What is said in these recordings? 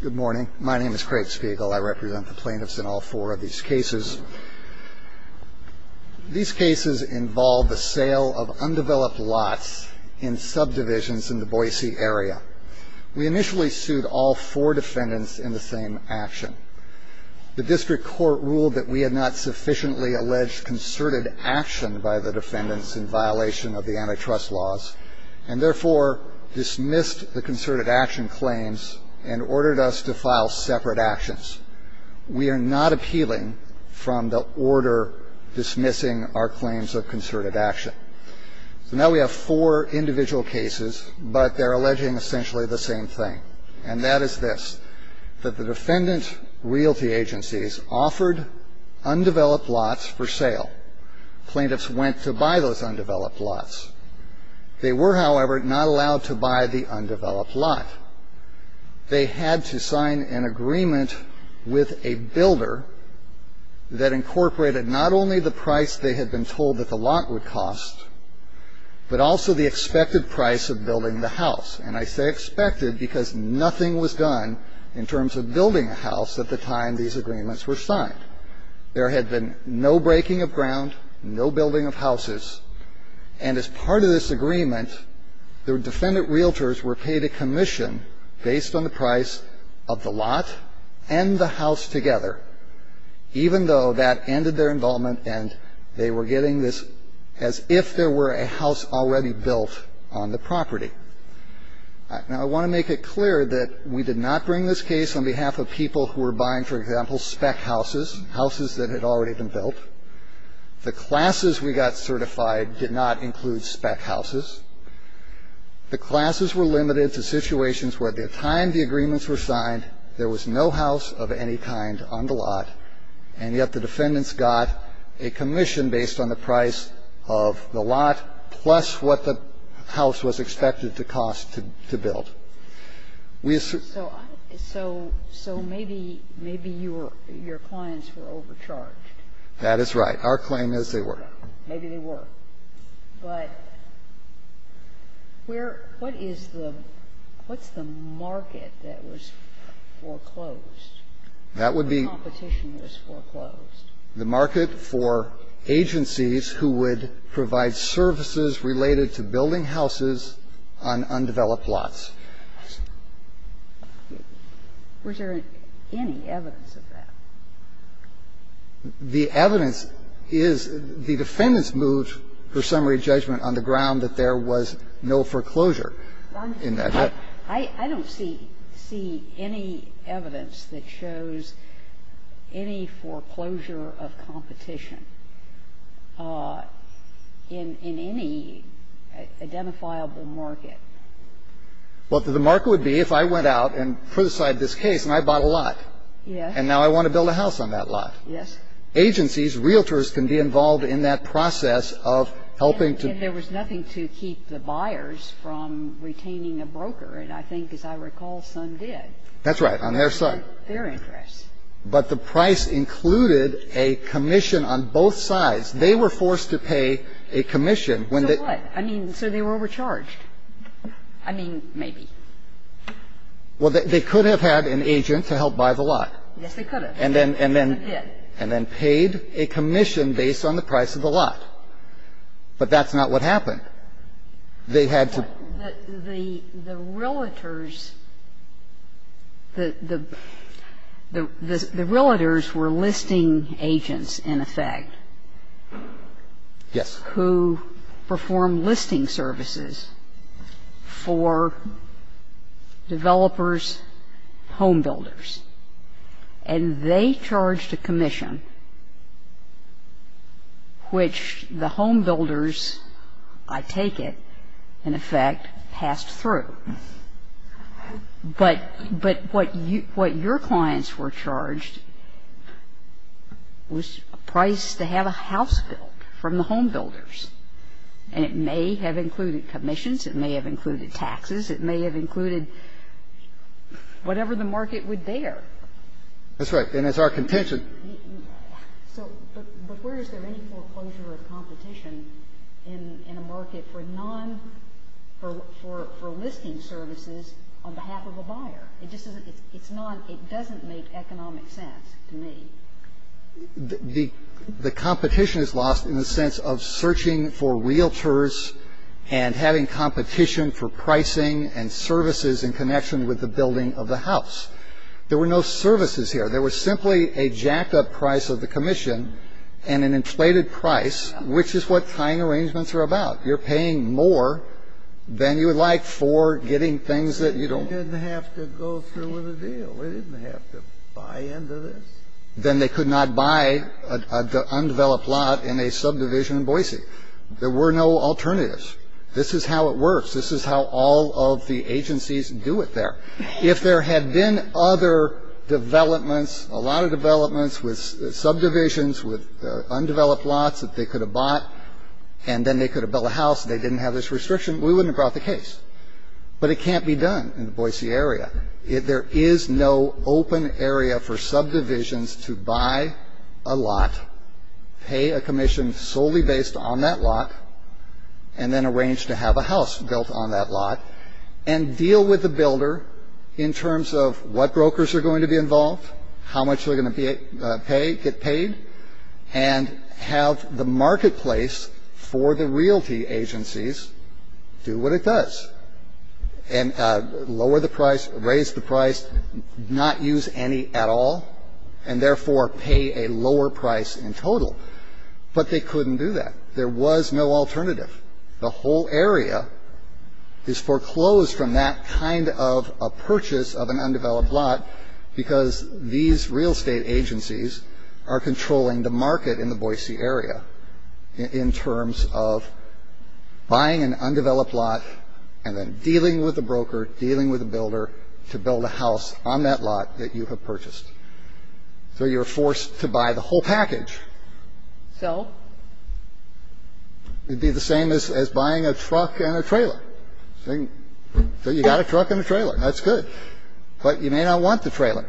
Good morning. My name is Craig Spiegel. I represent the plaintiffs in all four of these cases. These cases involve the sale of undeveloped lots in subdivisions in the Boise area. We initially sued all four defendants in the same action. The district court ruled that we had not sufficiently alleged concerted action by the defendants in violation of the antitrust laws and therefore dismissed the concerted action claims and ordered us to file separate actions. We are not appealing from the order dismissing our claims of concerted action. So now we have four individual cases, but they're alleging essentially the same thing, and that is this, that the defendant's realty agencies offered undeveloped lots for sale. Plaintiffs went to buy those undeveloped lots. They were, however, not allowed to buy the undeveloped lot. They had to sign an agreement with a builder that incorporated not only the price they had been told that the lot would cost, but also the expected price of building the house. And I say expected because nothing was done in terms of building a house at the time these agreements were signed. There had been no breaking of ground, no building of houses. And as part of this agreement, the defendant realtors were paid a commission based on the price of the lot and the house together, even though that ended their involvement and they were getting this as if there were a house already built on the property. Now, I want to make it clear that we did not bring this case on behalf of people who were buying, for example, spec houses, houses that had already been built. The classes we got certified did not include spec houses. The classes were limited to situations where at the time the agreements were signed, there was no house of any kind on the lot, and yet the defendants got a commission based on the price of the lot, plus what the house was expected to cost to build. Sotomayor So maybe your clients were overcharged. Carvin That is right. Our claim is they were. Sotomayor Maybe they were. But where – what is the – what's the market that was foreclosed? Carvin That would be – Sotomayor The competition was foreclosed. Carvin The market for agencies who would provide services related to building houses on undeveloped lots. Sotomayor Was there any evidence of that? Carvin The evidence is the defendants moved for summary judgment on the ground that there was no foreclosure in that. Sotomayor I don't see any evidence that shows any foreclosure of competition in any identifiable market. Carvin Well, the market would be if I went out and put aside this case and I bought a lot. Sotomayor Yes. Carvin And now I want to build a house on that lot. Sotomayor Yes. Carvin Agencies, realtors, can be involved in that process of helping to – I want to build a house in a place where I can provide services to the buyers from retaining a broker. And I think, as I recall, some did. Carvin That's right, on their side. Sotomayor Their interests. Carvin But the price included a commission on both sides. They were forced to pay a commission when the – Sotomayor So what? I mean, so they were overcharged. I mean, maybe. Carvin Well, they could have had an agent to help buy the lot. Sotomayor Yes, they could have. Carvin And then paid a commission based on the price of the lot. But that's not what happened. They had to – Sotomayor The realtors were listing agents, in effect. Carvin Yes. Sotomayor Who performed listing services for developers, home builders. And they charged a commission, which the home builders, I take it, in effect, passed through. But what your clients were charged was a price to have a house built from the home builders. And it may have included commissions. It may have included taxes. It may have included whatever the market would dare. Carvin That's right. And it's our contention. Sotomayor So but where is there any foreclosure of competition in a market for non-for listing services on behalf of a buyer? It just doesn't – it's not – it doesn't make economic sense to me. Carvin The competition is lost in the sense of searching for realtors and having a competition for pricing and services in connection with the building of the house. There were no services here. There was simply a jacked-up price of the commission and an inflated price, which is what tying arrangements are about. You're paying more than you would like for getting things that you don't want. Kennedy They didn't have to go through with a deal. They didn't have to buy into this. Carvin Then they could not buy an undeveloped lot in a subdivision in Boise. There were no alternatives. This is how it works. This is how all of the agencies do it there. If there had been other developments, a lot of developments with subdivisions, with undeveloped lots that they could have bought, and then they could have built a house and they didn't have this restriction, we wouldn't have brought the case. But it can't be done in the Boise area. There is no open area for subdivisions to buy a lot, pay a commission solely based on that lot, and then arrange to have a house built on that lot, and deal with the builder in terms of what brokers are going to be involved, how much they're going to get paid, and have the marketplace for the realty agencies do what it does, and lower the price, raise the price, not use any at all, and therefore pay a lower price in total. But they couldn't do that. There was no alternative. The whole area is foreclosed from that kind of a purchase of an undeveloped lot because these real estate agencies are controlling the market in the Boise area in terms of buying an undeveloped lot and then dealing with a broker, dealing with a builder to build a house on that lot that you have purchased. So you're forced to buy the whole package. So? It would be the same as buying a truck and a trailer. So you got a truck and a trailer. That's good. But you may not want the trailer.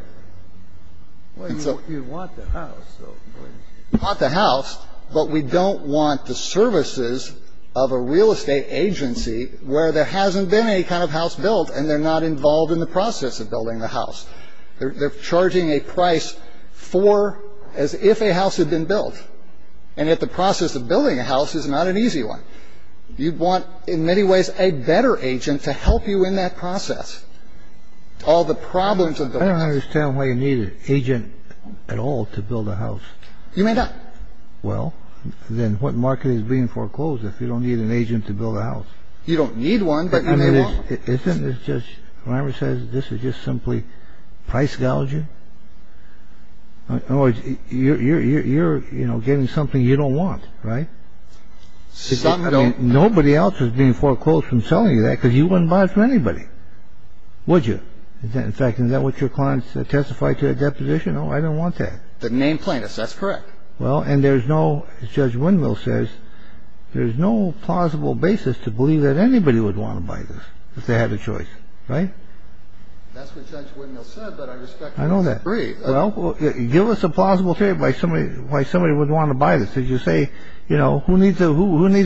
Well, you want the house. You want the house, but we don't want the services of a real estate agency where there hasn't been any kind of house built and they're not involved in the process of building the house. They're charging a price for as if a house had been built and yet the process of building a house is not an easy one. You'd want, in many ways, a better agent to help you in that process. All the problems of the house. I don't understand why you need an agent at all to build a house. You may not. Well, then what market is being foreclosed if you don't need an agent to build a house? You don't need one, but you may want one. Isn't it, as Judge Reimer says, this is just simply price gouging? In other words, you're getting something you don't want, right? I mean, nobody else is being foreclosed from selling you that because you wouldn't buy it from anybody, would you? In fact, isn't that what your clients testified to at that position? No, I don't want that. But name plaintiffs. That's correct. Well, and there's no, as Judge Winville says, there's no plausible basis to believe that anybody would want to buy this if they had a choice, right? That's what Judge Winville said, but I respect that. I know that. Well, give us a plausible theory why somebody would want to buy this. Did you say, you know, who needs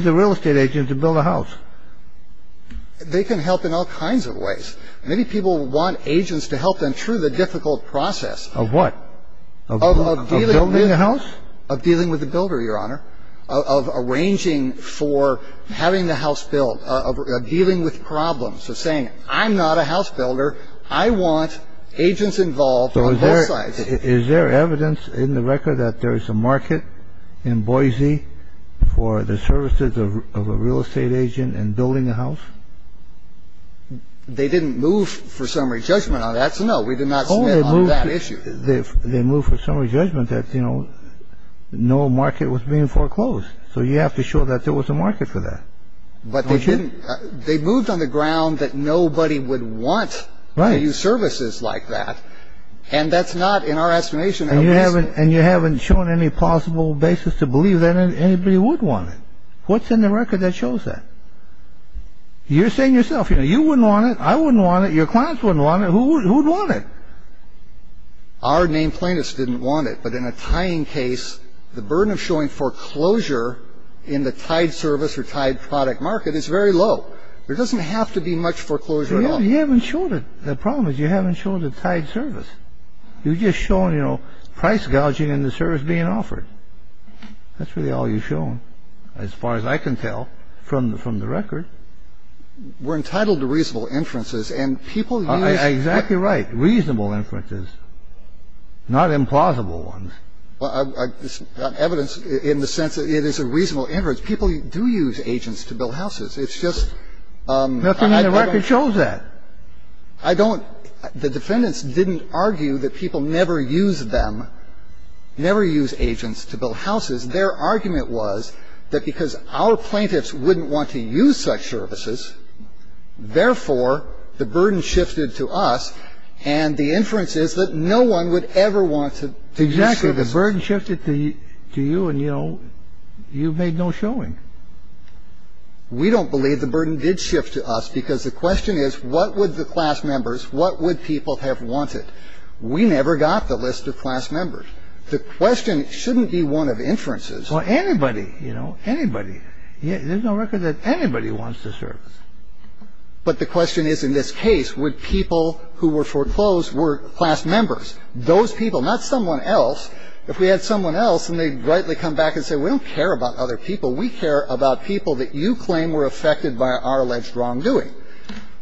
a real estate agent to build a house? They can help in all kinds of ways. Many people want agents to help them through the difficult process. Of what? Of building a house? Of dealing with the builder, Your Honor. Of arranging for having the house built. Of dealing with problems. Of saying, I'm not a house builder. I want agents involved on both sides. Is there evidence in the record that there is a market in Boise for the services of a real estate agent in building a house? They didn't move for summary judgment on that. So, no, we did not submit on that issue. They moved for summary judgment that, you know, no market was being foreclosed. So you have to show that there was a market for that. But they moved on the ground that nobody would want to use services like that. And that's not in our estimation. And you haven't shown any plausible basis to believe that anybody would want it. What's in the record that shows that? You're saying yourself, you know, you wouldn't want it, I wouldn't want it, your clients wouldn't want it. Who would want it? Our named plaintiffs didn't want it. But in a tying case, the burden of showing foreclosure in the tied service or tied product market is very low. There doesn't have to be much foreclosure at all. You haven't shown it. The problem is you haven't shown the tied service. You've just shown, you know, price gouging and the service being offered. That's really all you've shown, as far as I can tell from the record. We're entitled to reasonable inferences. And people use Exactly right. Reasonable inferences, not implausible ones. Evidence in the sense that it is a reasonable inference. People do use agents to build houses. It's just Nothing in the record shows that. I don't. The defendants didn't argue that people never use them, never use agents to build houses. Their argument was that because our plaintiffs wouldn't want to use such services, therefore the burden shifted to us and the inference is that no one would ever want to Exactly. The burden shifted to you and, you know, you've made no showing. We don't believe the burden did shift to us because the question is what would the class members, what would people have wanted? We never got the list of class members. The question shouldn't be one of inferences. Well, anybody, you know, anybody. There's no record that anybody wants the service. But the question is in this case, would people who were foreclosed were class members? Those people, not someone else. If we had someone else and they'd rightly come back and say we don't care about other people. We care about people that you claim were affected by our alleged wrongdoing.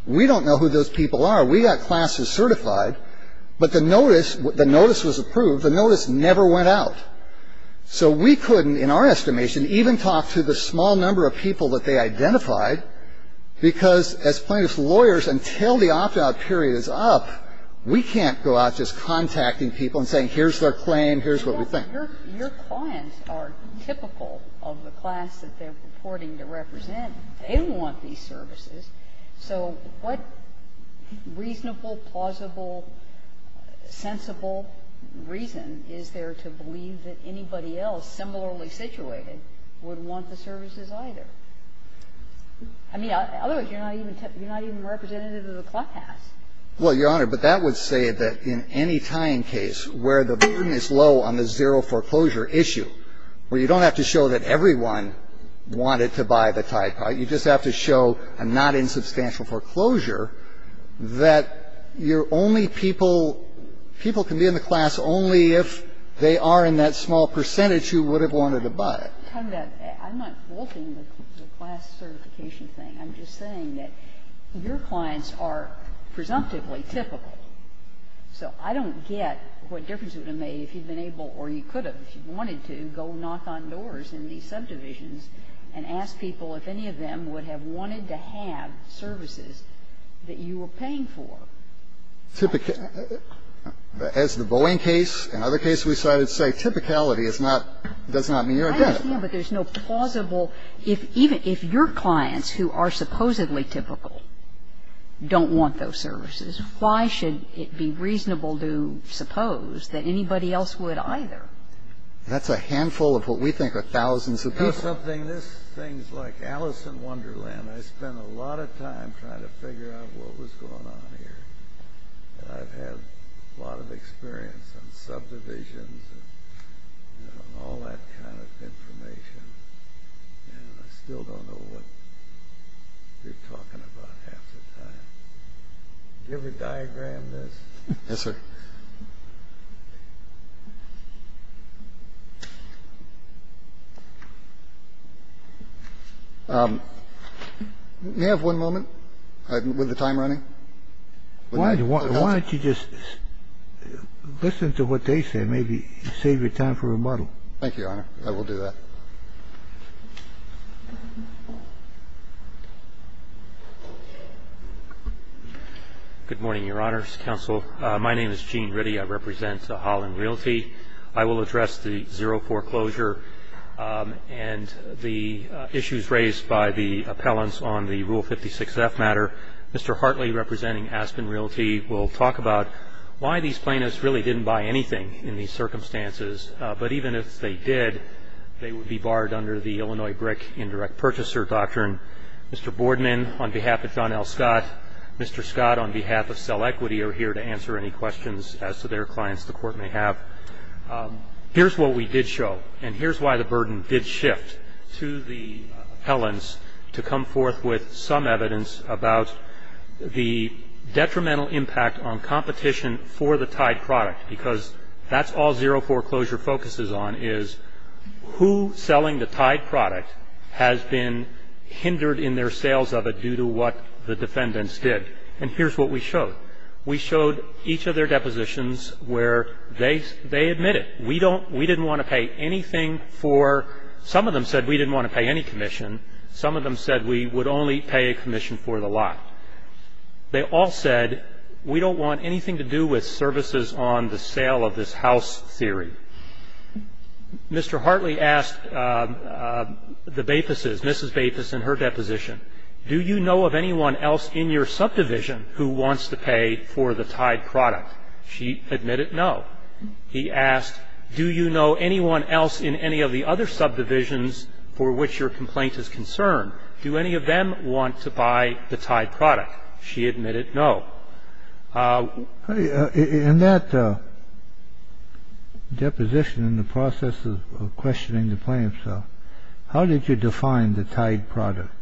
We don't know who those people are. We got classes certified. But the notice, the notice was approved. The notice never went out. So we couldn't, in our estimation, even talk to the small number of people that they identified because as plaintiff's lawyers, until the opt-out period is up, we can't go out just contacting people and saying here's their claim, here's what we think. Your clients are typical of the class that they're reporting to represent. They don't want these services. So what reasonable, plausible, sensible reason is there to believe that anybody else similarly situated would want the services either? I mean, otherwise you're not even representative of the class. Well, Your Honor, but that would say that in any tying case where the burden is low on the zero foreclosure issue, where you don't have to show that everyone wanted to buy the type, right, you just have to show a not insubstantial foreclosure that your only people, people can be in the class only if they are in that small percentage who would have wanted to buy it. I'm not faulting the class certification thing. I'm just saying that your clients are presumptively typical. So I don't get what difference it would have made if you'd been able or you could have, if you wanted to, go knock on doors in these subdivisions and ask people if any of them would have wanted to have services that you were paying for. As the Boeing case and other cases we cited say, typicality is not, does not mean you're a debtor. I understand, but there's no plausible – if your clients who are supposedly typical don't want those services, why should it be reasonable to suppose that anybody else would either? That's a handful of what we think are thousands of people. Here's something, this thing's like Alice in Wonderland. I spent a lot of time trying to figure out what was going on here. I've had a lot of experience in subdivisions and all that kind of information, and I still don't know what you're talking about half the time. Give a diagram of this. Yes, sir. May I have one moment with the time running? Why don't you just listen to what they say, maybe save your time for rebuttal. Thank you, Your Honor. I will do that. Good morning, Your Honors, Counsel. My name is Gene Ritty. I represent Holland Realty. I will address the zero foreclosure and the issues raised by the appellants on the Rule 56-F matter. Mr. Hartley, representing Aspen Realty, will talk about why these plaintiffs really didn't buy anything in these circumstances. But even if they did, they would be barred under the Illinois brick indirect purchaser doctrine. Mr. Boardman, on behalf of John L. Scott, Mr. Scott, on behalf of Cell Equity, are here to answer any questions as to their clients the court may have. Here's what we did show, and here's why the burden did shift to the appellants to come forth with some evidence about the detrimental impact on competition for the tied product, because that's all zero foreclosure focuses on is who selling the tied product has been hindered in their sales of it due to what the defendants did. And here's what we showed. We showed each of their depositions where they admit it. We don't we didn't want to pay anything for some of them said we didn't want to pay any commission. Some of them said we would only pay a commission for the lot. They all said we don't want anything to do with services on the sale of this house theory. Mr. Hartley asked the Baethuses, Mrs. Baethus in her deposition, do you know of anyone else in your subdivision who wants to pay for the tied product? She admitted no. He asked, do you know anyone else in any of the other subdivisions for which your complaint is concerned? Do any of them want to buy the tied product? She admitted no. In that deposition in the process of questioning the plaintiffs, how did you define the tied product?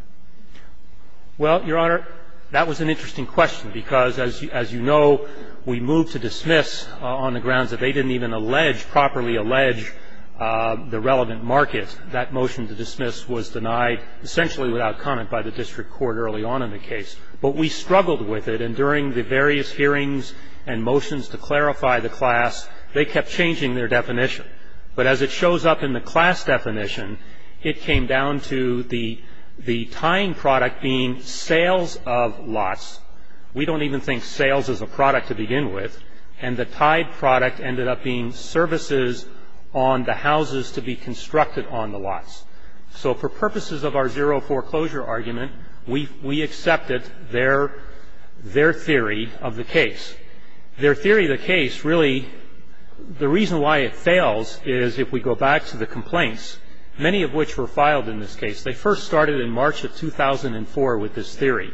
Well, Your Honor, that was an interesting question because, as you know, we moved to dismiss on the grounds that they didn't even allege properly allege the relevant market. That motion to dismiss was denied essentially without comment by the district court early on in the case. But we struggled with it, and during the various hearings and motions to clarify the class, they kept changing their definition. But as it shows up in the class definition, it came down to the tying product being sales of lots. We don't even think sales is a product to begin with, and the tied product ended up being services on the houses to be constructed on the lots. So for purposes of our zero foreclosure argument, we accepted their theory of the case. Their theory of the case really, the reason why it fails is if we go back to the complaints, many of which were filed in this case. They first started in March of 2004 with this theory.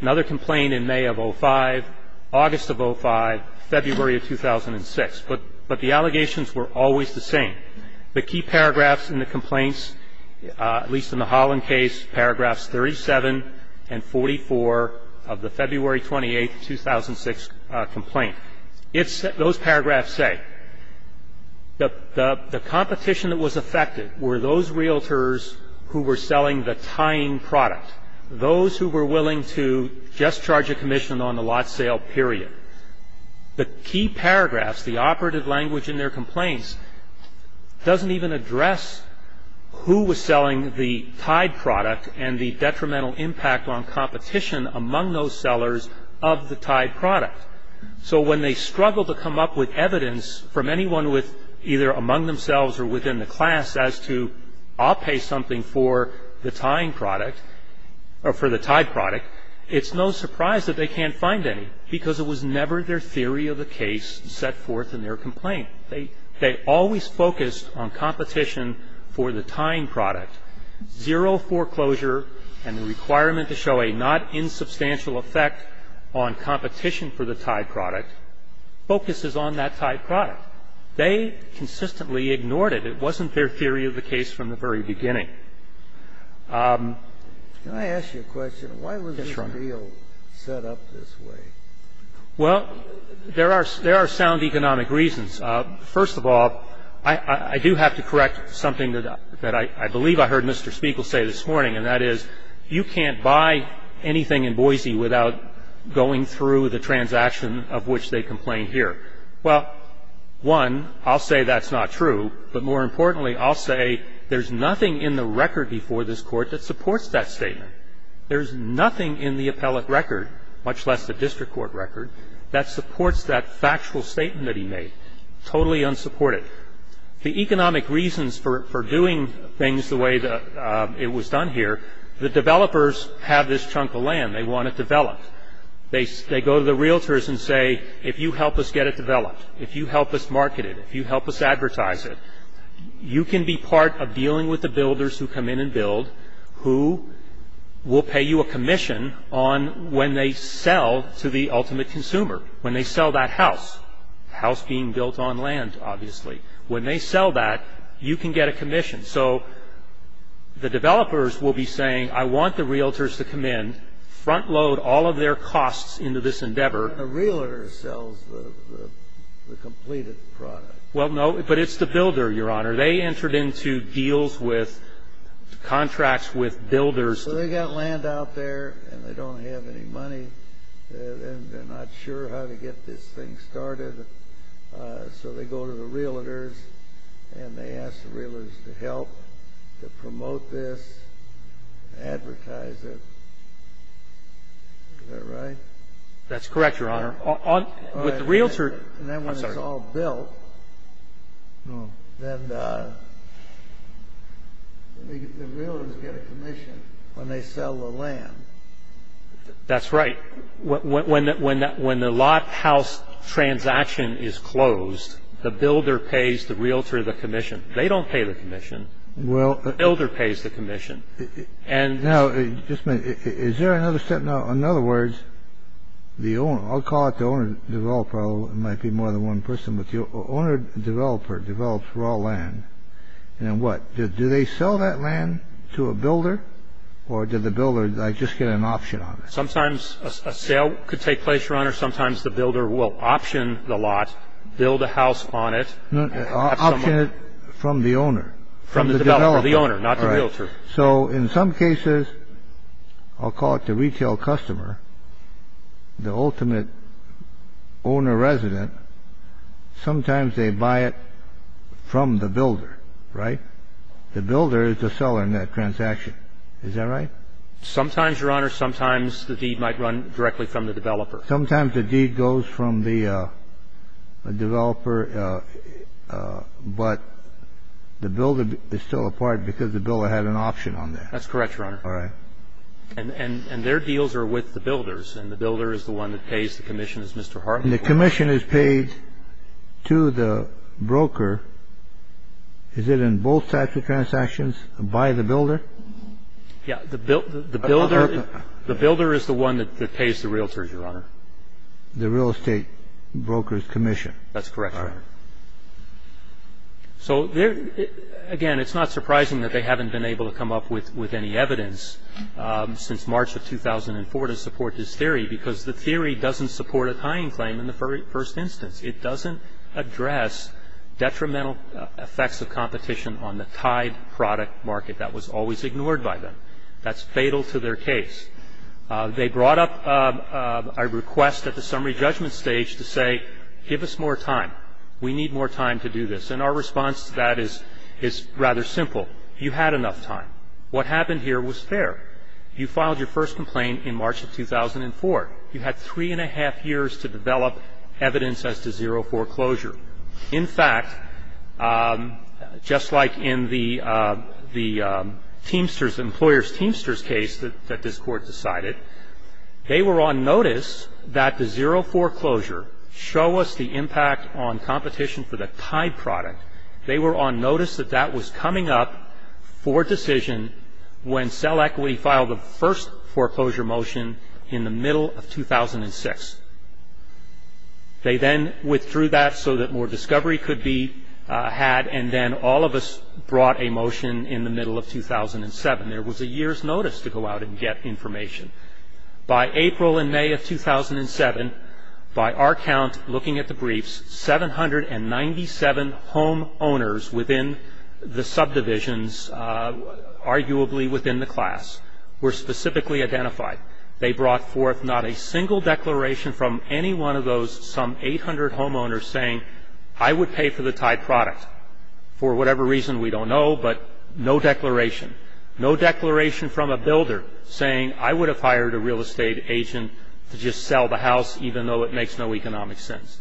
Another complaint in May of 2005, August of 2005, February of 2006. But the allegations were always the same. The key paragraphs in the complaints, at least in the Holland case, paragraphs 37 and 44 of the February 28, 2006 complaint. Those paragraphs say the competition that was affected were those realtors who were selling the tying product, those who were willing to just charge a commission on the lot sale, period. The key paragraphs, the operative language in their complaints, doesn't even address who was selling the tied product and the detrimental impact on competition among those sellers of the tied product. So when they struggle to come up with evidence from anyone with either among themselves or within the class as to I'll pay something for the tying product or for the tied product, it's no surprise that they can't find any because it was never their theory of the case set forth in their complaint. They always focused on competition for the tying product. Zero foreclosure and the requirement to show a not insubstantial effect on competition for the tied product focuses on that tied product. They consistently ignored it. It wasn't their theory of the case from the very beginning. Can I ask you a question? Why was this deal set up this way? Well, there are sound economic reasons. First of all, I do have to correct something that I believe I heard Mr. Spiegel say this morning, and that is you can't buy anything in Boise without going through the transaction of which they complain here. Well, one, I'll say that's not true, but more importantly, I'll say there's nothing in the record before this court that supports that statement. There's nothing in the appellate record, much less the district court record, that supports that factual statement that he made, totally unsupported. The economic reasons for doing things the way that it was done here, the developers have this chunk of land. They want it developed. They go to the realtors and say, if you help us get it developed, if you help us market it, if you help us advertise it, you can be part of dealing with the builders who come in and build who will pay you a commission on when they sell to the ultimate consumer, when they sell that house, house being built on land, obviously. When they sell that, you can get a commission. So the developers will be saying, I want the realtors to come in, front load all of their costs into this endeavor. But the realtor sells the completed product. Well, no, but it's the builder, Your Honor. They entered into deals with, contracts with builders. So they got land out there and they don't have any money and they're not sure how to get this thing started. So they go to the realtors and they ask the realtors to help, to promote this, advertise it. Is that right? That's correct, Your Honor. And then when it's all built, then the realtors get a commission when they sell the land. That's right. When the lot house transaction is closed, the builder pays the realtor the commission. They don't pay the commission. The builder pays the commission. Now, just a minute. Is there another step? In other words, I'll call it the owner developer. It might be more than one person, but the owner developer develops raw land. And what? Do they sell that land to a builder or did the builder just get an option on it? Sometimes a sale could take place, Your Honor. Sometimes the builder will option the lot, build a house on it. Option it from the owner. From the developer, the owner, not the realtor. All right. So in some cases, I'll call it the retail customer, the ultimate owner resident. Sometimes they buy it from the builder, right? The builder is the seller in that transaction. Is that right? Sometimes, Your Honor, sometimes the deed might run directly from the developer. Sometimes the deed goes from the developer, but the builder is still a part because the builder had an option on that. That's correct, Your Honor. All right. And their deals are with the builders, and the builder is the one that pays the commission. The commission is paid to the broker. Is it in both types of transactions by the builder? Yeah. The builder is the one that pays the realtors, Your Honor. The real estate broker's commission. That's correct, Your Honor. All right. So, again, it's not surprising that they haven't been able to come up with any evidence since March of 2004 to support this theory because the theory doesn't support a tying claim in the first instance. It doesn't address detrimental effects of competition on the tied product market that was always ignored by them. That's fatal to their case. They brought up a request at the summary judgment stage to say, give us more time. We need more time to do this. And our response to that is rather simple. You had enough time. What happened here was fair. You filed your first complaint in March of 2004. You had three and a half years to develop evidence as to zero foreclosure. In fact, just like in the Teamsters, the employer's Teamsters case that this court decided, they were on notice that the zero foreclosure show us the impact on competition for the tied product. They were on notice that that was coming up for decision when Cell Equity filed the first foreclosure motion in the middle of 2006. They then withdrew that so that more discovery could be had, and then all of us brought a motion in the middle of 2007. There was a year's notice to go out and get information. By April and May of 2007, by our count, looking at the briefs, 797 homeowners within the subdivisions, arguably within the class, were specifically identified. They brought forth not a single declaration from any one of those some 800 homeowners saying, I would pay for the tied product for whatever reason we don't know, but no declaration. No declaration from a builder saying, I would have hired a real estate agent to just sell the house even though it makes no economic sense.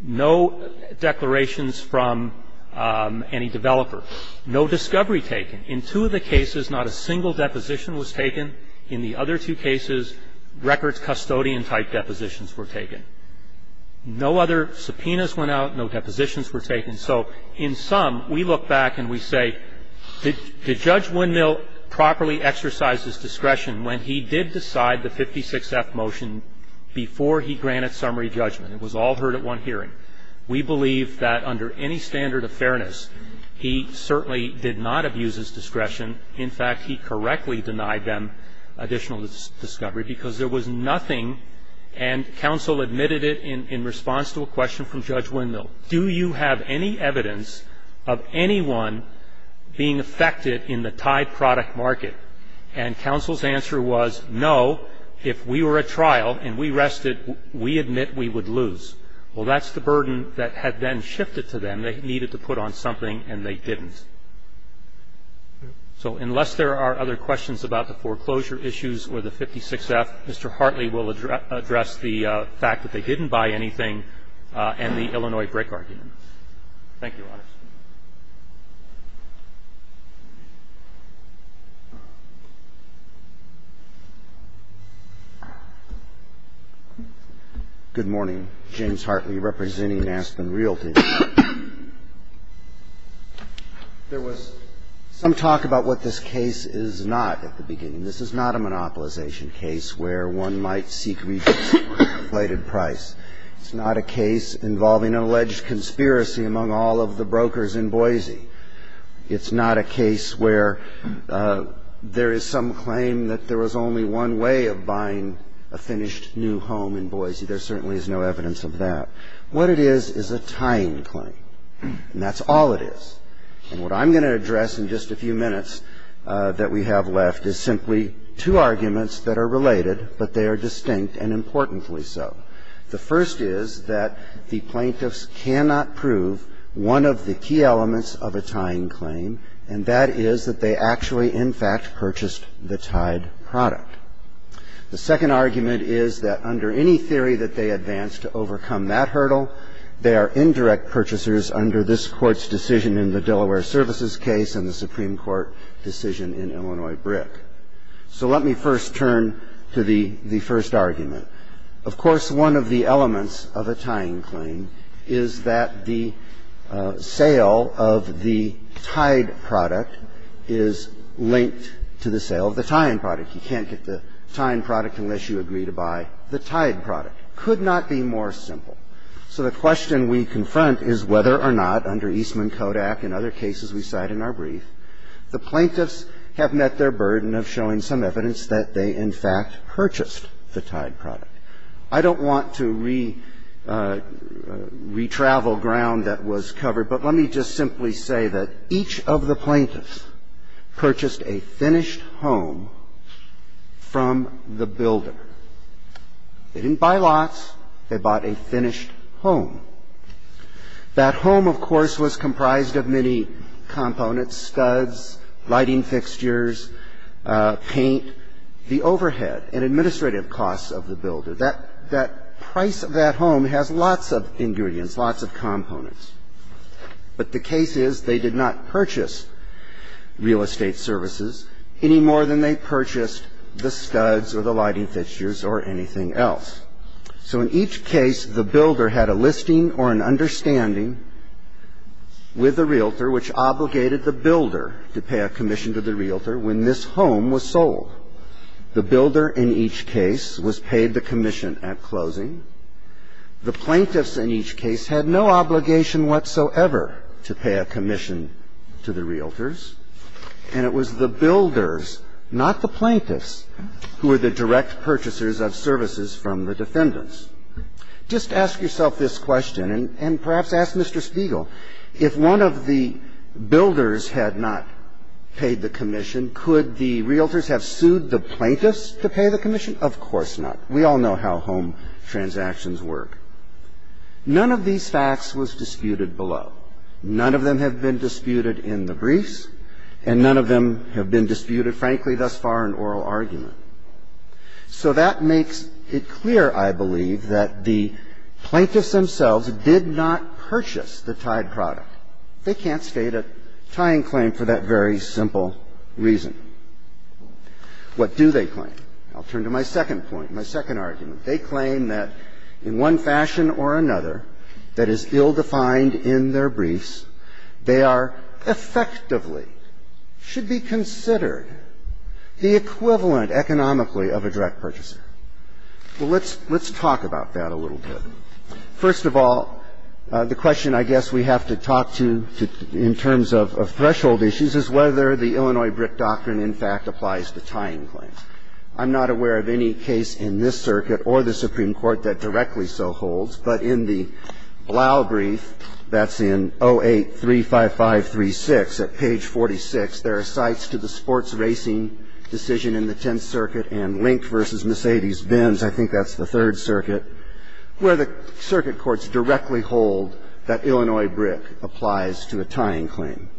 No declarations from any developer. No discovery taken. In two of the cases, not a single deposition was taken. In the other two cases, records custodian-type depositions were taken. No other subpoenas went out. No depositions were taken. And so in sum, we look back and we say, did Judge Windmill properly exercise his discretion when he did decide the 56F motion before he granted summary judgment? It was all heard at one hearing. We believe that under any standard of fairness, he certainly did not abuse his discretion. In fact, he correctly denied them additional discovery because there was nothing and counsel admitted it in response to a question from Judge Windmill. Do you have any evidence of anyone being affected in the tied product market? And counsel's answer was, no. If we were at trial and we rested, we admit we would lose. Well, that's the burden that had been shifted to them. They needed to put on something and they didn't. So unless there are other questions about the foreclosure issues or the 56F, Mr. Hartley will address the fact that they didn't buy anything and the Illinois break argument. Thank you, Your Honors. Good morning. James Hartley representing Aspen Realty. There was some talk about what this case is not at the beginning. This is not a monopolization case where one might seek reduced or inflated price. It's not a case involving an alleged conspiracy among all of the brokers in Boise. It's not a case where there is some claim that there was only one way of buying a finished new home in Boise. There certainly is no evidence of that. What it is is a tying claim. And that's all it is. And what I'm going to address in just a few minutes that we have left is simply two arguments that are related, but they are distinct and importantly so. The first is that the plaintiffs cannot prove one of the key elements of a tying claim, and that is that they actually, in fact, purchased the tied product. The second argument is that under any theory that they advanced to overcome that is that the plaintiffs cannot prove one of the key elements of a tying claim, of a tying claim, and that is that they actually, in fact, purchased the tied product in the Delaware Services case and the Supreme Court decision in Illinois Brick. So let me first turn to the first argument. and that is that they actually, in fact, purchased the tied product. In other cases we cite in our brief, the plaintiffs have met their burden of showing some evidence that they, in fact, purchased the tied product. I don't want to re-travel ground that was covered, but let me just simply say that each of the plaintiffs purchased a finished home from the builder. They didn't buy lots. They bought a finished home. That home, of course, was comprised of many components, studs, lighting fixtures, paint, the overhead and administrative costs of the builder. That price of that home has lots of ingredients, lots of components. But the case is they did not purchase real estate services any more than they purchased the studs or the lighting fixtures or anything else. So in each case, the builder had a listing or an understanding with the realtor which obligated the builder to pay a commission to the realtor when this home was sold. The builder in each case was paid the commission at closing. The plaintiffs in each case had no obligation whatsoever to pay a commission to the realtors, and it was the builders, not the plaintiffs, who were the direct purchasers of services from the defendants. Just ask yourself this question, and perhaps ask Mr. Spiegel, if one of the builders had not paid the commission, could the realtors have sued the plaintiffs to pay the commission? Of course not. We all know how home transactions work. None of these facts was disputed below. None of them have been disputed in the briefs, and none of them have been disputed, frankly, thus far in oral argument. So that makes it clear, I believe, that the plaintiffs themselves did not purchase the tied product. They can't state a tying claim for that very simple reason. What do they claim? I'll turn to my second point, my second argument. They claim that in one fashion or another that is ill-defined in their briefs, they are effectively, should be considered, the equivalent economically of a direct purchaser. Well, let's talk about that a little bit. First of all, the question I guess we have to talk to in terms of threshold issues is whether the Illinois BRIC doctrine, in fact, applies to tying claims. I'm not aware of any case in this circuit or the Supreme Court that directly so holds, but in the Blau brief that's in 08-35536 at page 46, there are cites to the sports racing decision in the Tenth Circuit and Link v. Mercedes-Benz, I think that's the third circuit, where the circuit courts directly hold that Illinois BRIC applies to a tying claim.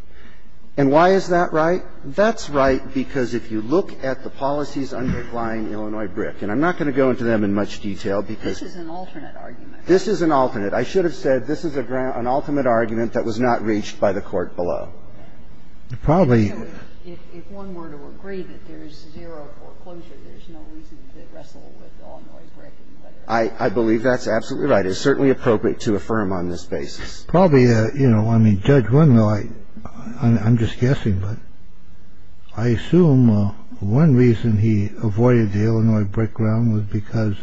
And why is that right? That's right because if you look at the policies underlying Illinois BRIC, and I'm not going to go into them in much detail because this is an alternate argument. I should have said this is an ultimate argument that was not reached by the court below. Probably if one were to agree that there is zero foreclosure, there's no reason to wrestle with Illinois BRIC. I believe that's absolutely right. It's certainly appropriate to affirm on this basis. Probably. You know, I mean, Judge Winlow, I'm just guessing, but I assume one reason he avoided the Illinois BRIC realm was because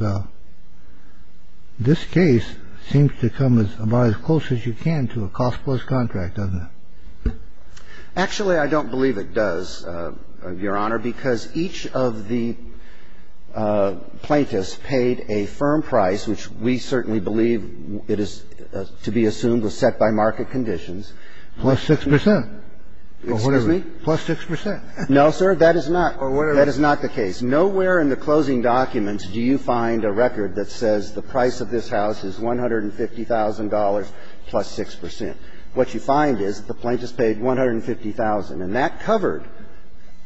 this case seems to come as about as close as you can get to a cost-plus contract, doesn't it? Actually, I don't believe it does, Your Honor, because each of the plaintiffs paid a firm price, which we certainly believe it is to be assumed was set by market conditions. Plus 6 percent. Excuse me? Plus 6 percent. No, sir, that is not. That is not the case. Nowhere in the closing documents do you find a record that says the price of this building is $1,000 plus 6 percent. What you find is the plaintiff's paid $150,000, and that covered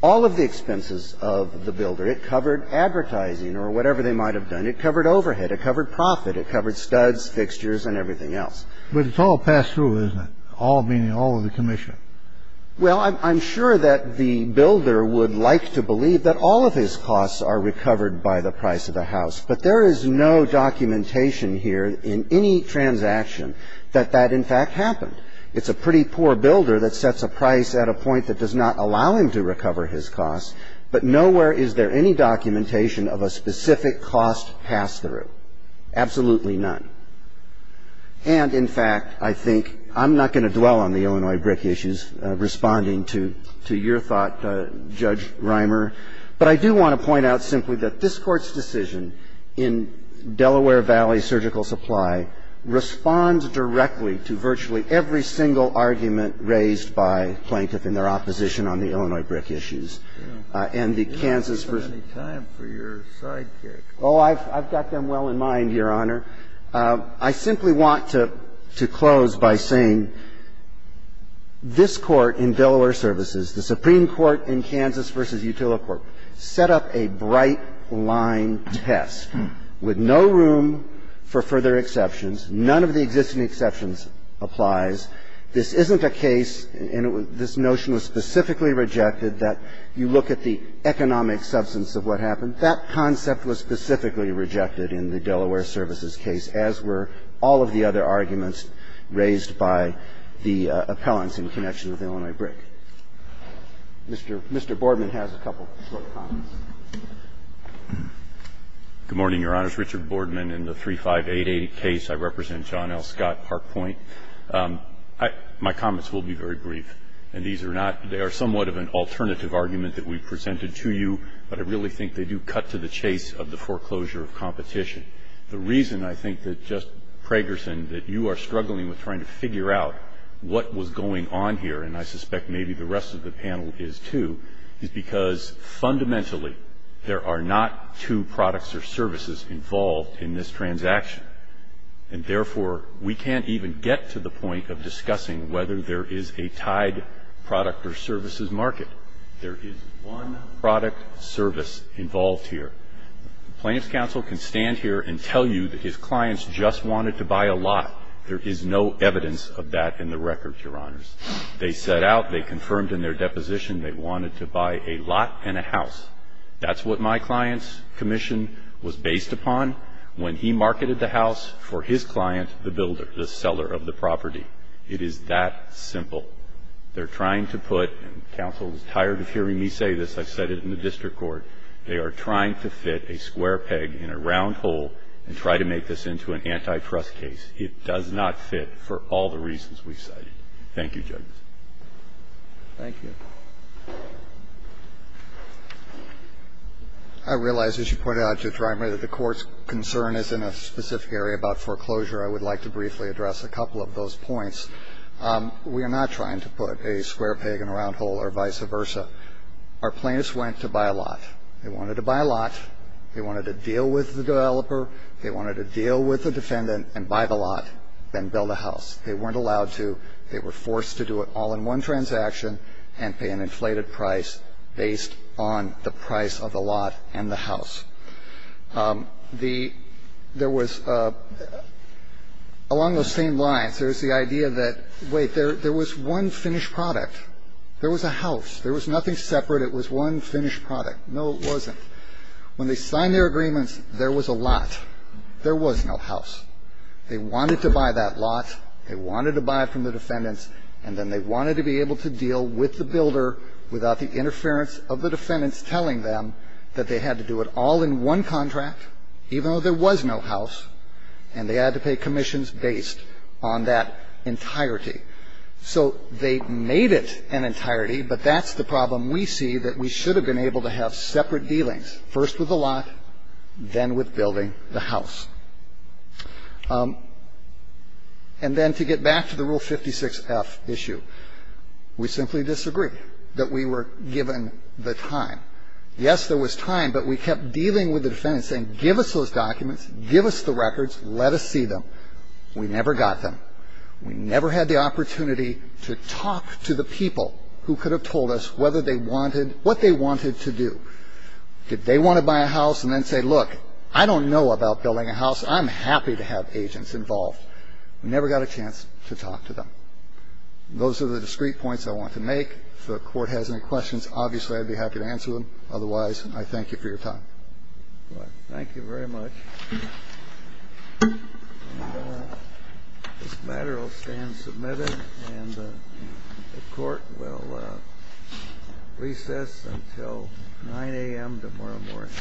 all of the expenses of the builder. It covered advertising or whatever they might have done. It covered overhead. It covered profit. It covered studs, fixtures, and everything else. But it's all passed through, isn't it? All meaning all of the commission. Well, I'm sure that the builder would like to believe that all of his costs are recovered by the price of the house. But there is no documentation here in any transaction that that, in fact, happened. It's a pretty poor builder that sets a price at a point that does not allow him to recover his costs, but nowhere is there any documentation of a specific cost pass-through. Absolutely none. And, in fact, I think I'm not going to dwell on the Illinois brick issues responding to your thought, Judge Reimer. But I do want to point out simply that this Court's decision in Delaware Valley Surgical Supply responds directly to virtually every single argument raised by plaintiffs in their opposition on the Illinois brick issues. And the Kansas v. I've got them well in mind, Your Honor. I simply want to close by saying this Court in Delaware Services, the Supreme Court in Kansas v. Utila Court set up a bright-line test with no room for further exceptions. None of the existing exceptions applies. This isn't a case, and this notion was specifically rejected, that you look at the economic substance of what happened. That concept was specifically rejected in the Delaware Services case, as were all of the other arguments raised by the appellants in connection with the Illinois brick. Mr. Boardman has a couple of short comments. Good morning, Your Honors. Richard Boardman in the 3588 case. I represent John L. Scott Park Point. My comments will be very brief. And these are not they are somewhat of an alternative argument that we've presented to you, but I really think they do cut to the chase of the foreclosure of competition. The reason I think that just, Pragerson, that you are struggling with trying to figure out what was going on here, and I suspect maybe the rest of the panel is too, is because fundamentally there are not two products or services involved in this transaction. And therefore, we can't even get to the point of discussing whether there is a tied product or services market. There is one product service involved here. The plaintiff's counsel can stand here and tell you that his clients just wanted to buy a lot. There is no evidence of that in the record, Your Honors. They set out, they confirmed in their deposition they wanted to buy a lot and a house. That's what my client's commission was based upon when he marketed the house for his client, the builder, the seller of the property. It is that simple. They're trying to put, and counsel is tired of hearing me say this, I've said it in the district court, they are trying to fit a square peg in a round hole and try to make this into an antitrust case. It does not fit for all the reasons we've cited. Thank you, judges. Thank you. I realize, as you pointed out, Judge Reimer, that the court's concern is in a specific area about foreclosure. I would like to briefly address a couple of those points. We are not trying to put a square peg in a round hole or vice versa. Our plaintiffs went to buy a lot. They wanted to buy a lot. They wanted to deal with the developer. They wanted to deal with the defendant and buy the lot and build a house. They weren't allowed to. They were forced to do it all in one transaction and pay an inflated price based on the price of the lot and the house. The ñ there was ñ along those same lines, there was the idea that, wait, there was one finished product. There was a house. It was one finished product. No, it wasn't. When they signed their agreements, there was a lot. There was no house. They wanted to buy that lot. They wanted to buy it from the defendants. And then they wanted to be able to deal with the builder without the interference of the defendants telling them that they had to do it all in one contract, even though there was no house, and they had to pay commissions based on that entirety. So they made it an entirety, but that's the problem we see, that we should have been able to have separate dealings, first with the lot, then with building the house. And then to get back to the Rule 56F issue, we simply disagreed that we were given the time. Yes, there was time, but we kept dealing with the defendants saying, give us those documents, give us the records, let us see them. We never got them. We never had the opportunity to talk to the people who could have told us whether they wanted what they wanted to do. Did they want to buy a house and then say, look, I don't know about building a house. I'm happy to have agents involved. We never got a chance to talk to them. Those are the discrete points I want to make. If the Court has any questions, obviously, I'd be happy to answer them. Otherwise, I thank you for your time. Thank you very much. This matter will stand submitted, and the Court will recess until 9 a.m. tomorrow morning.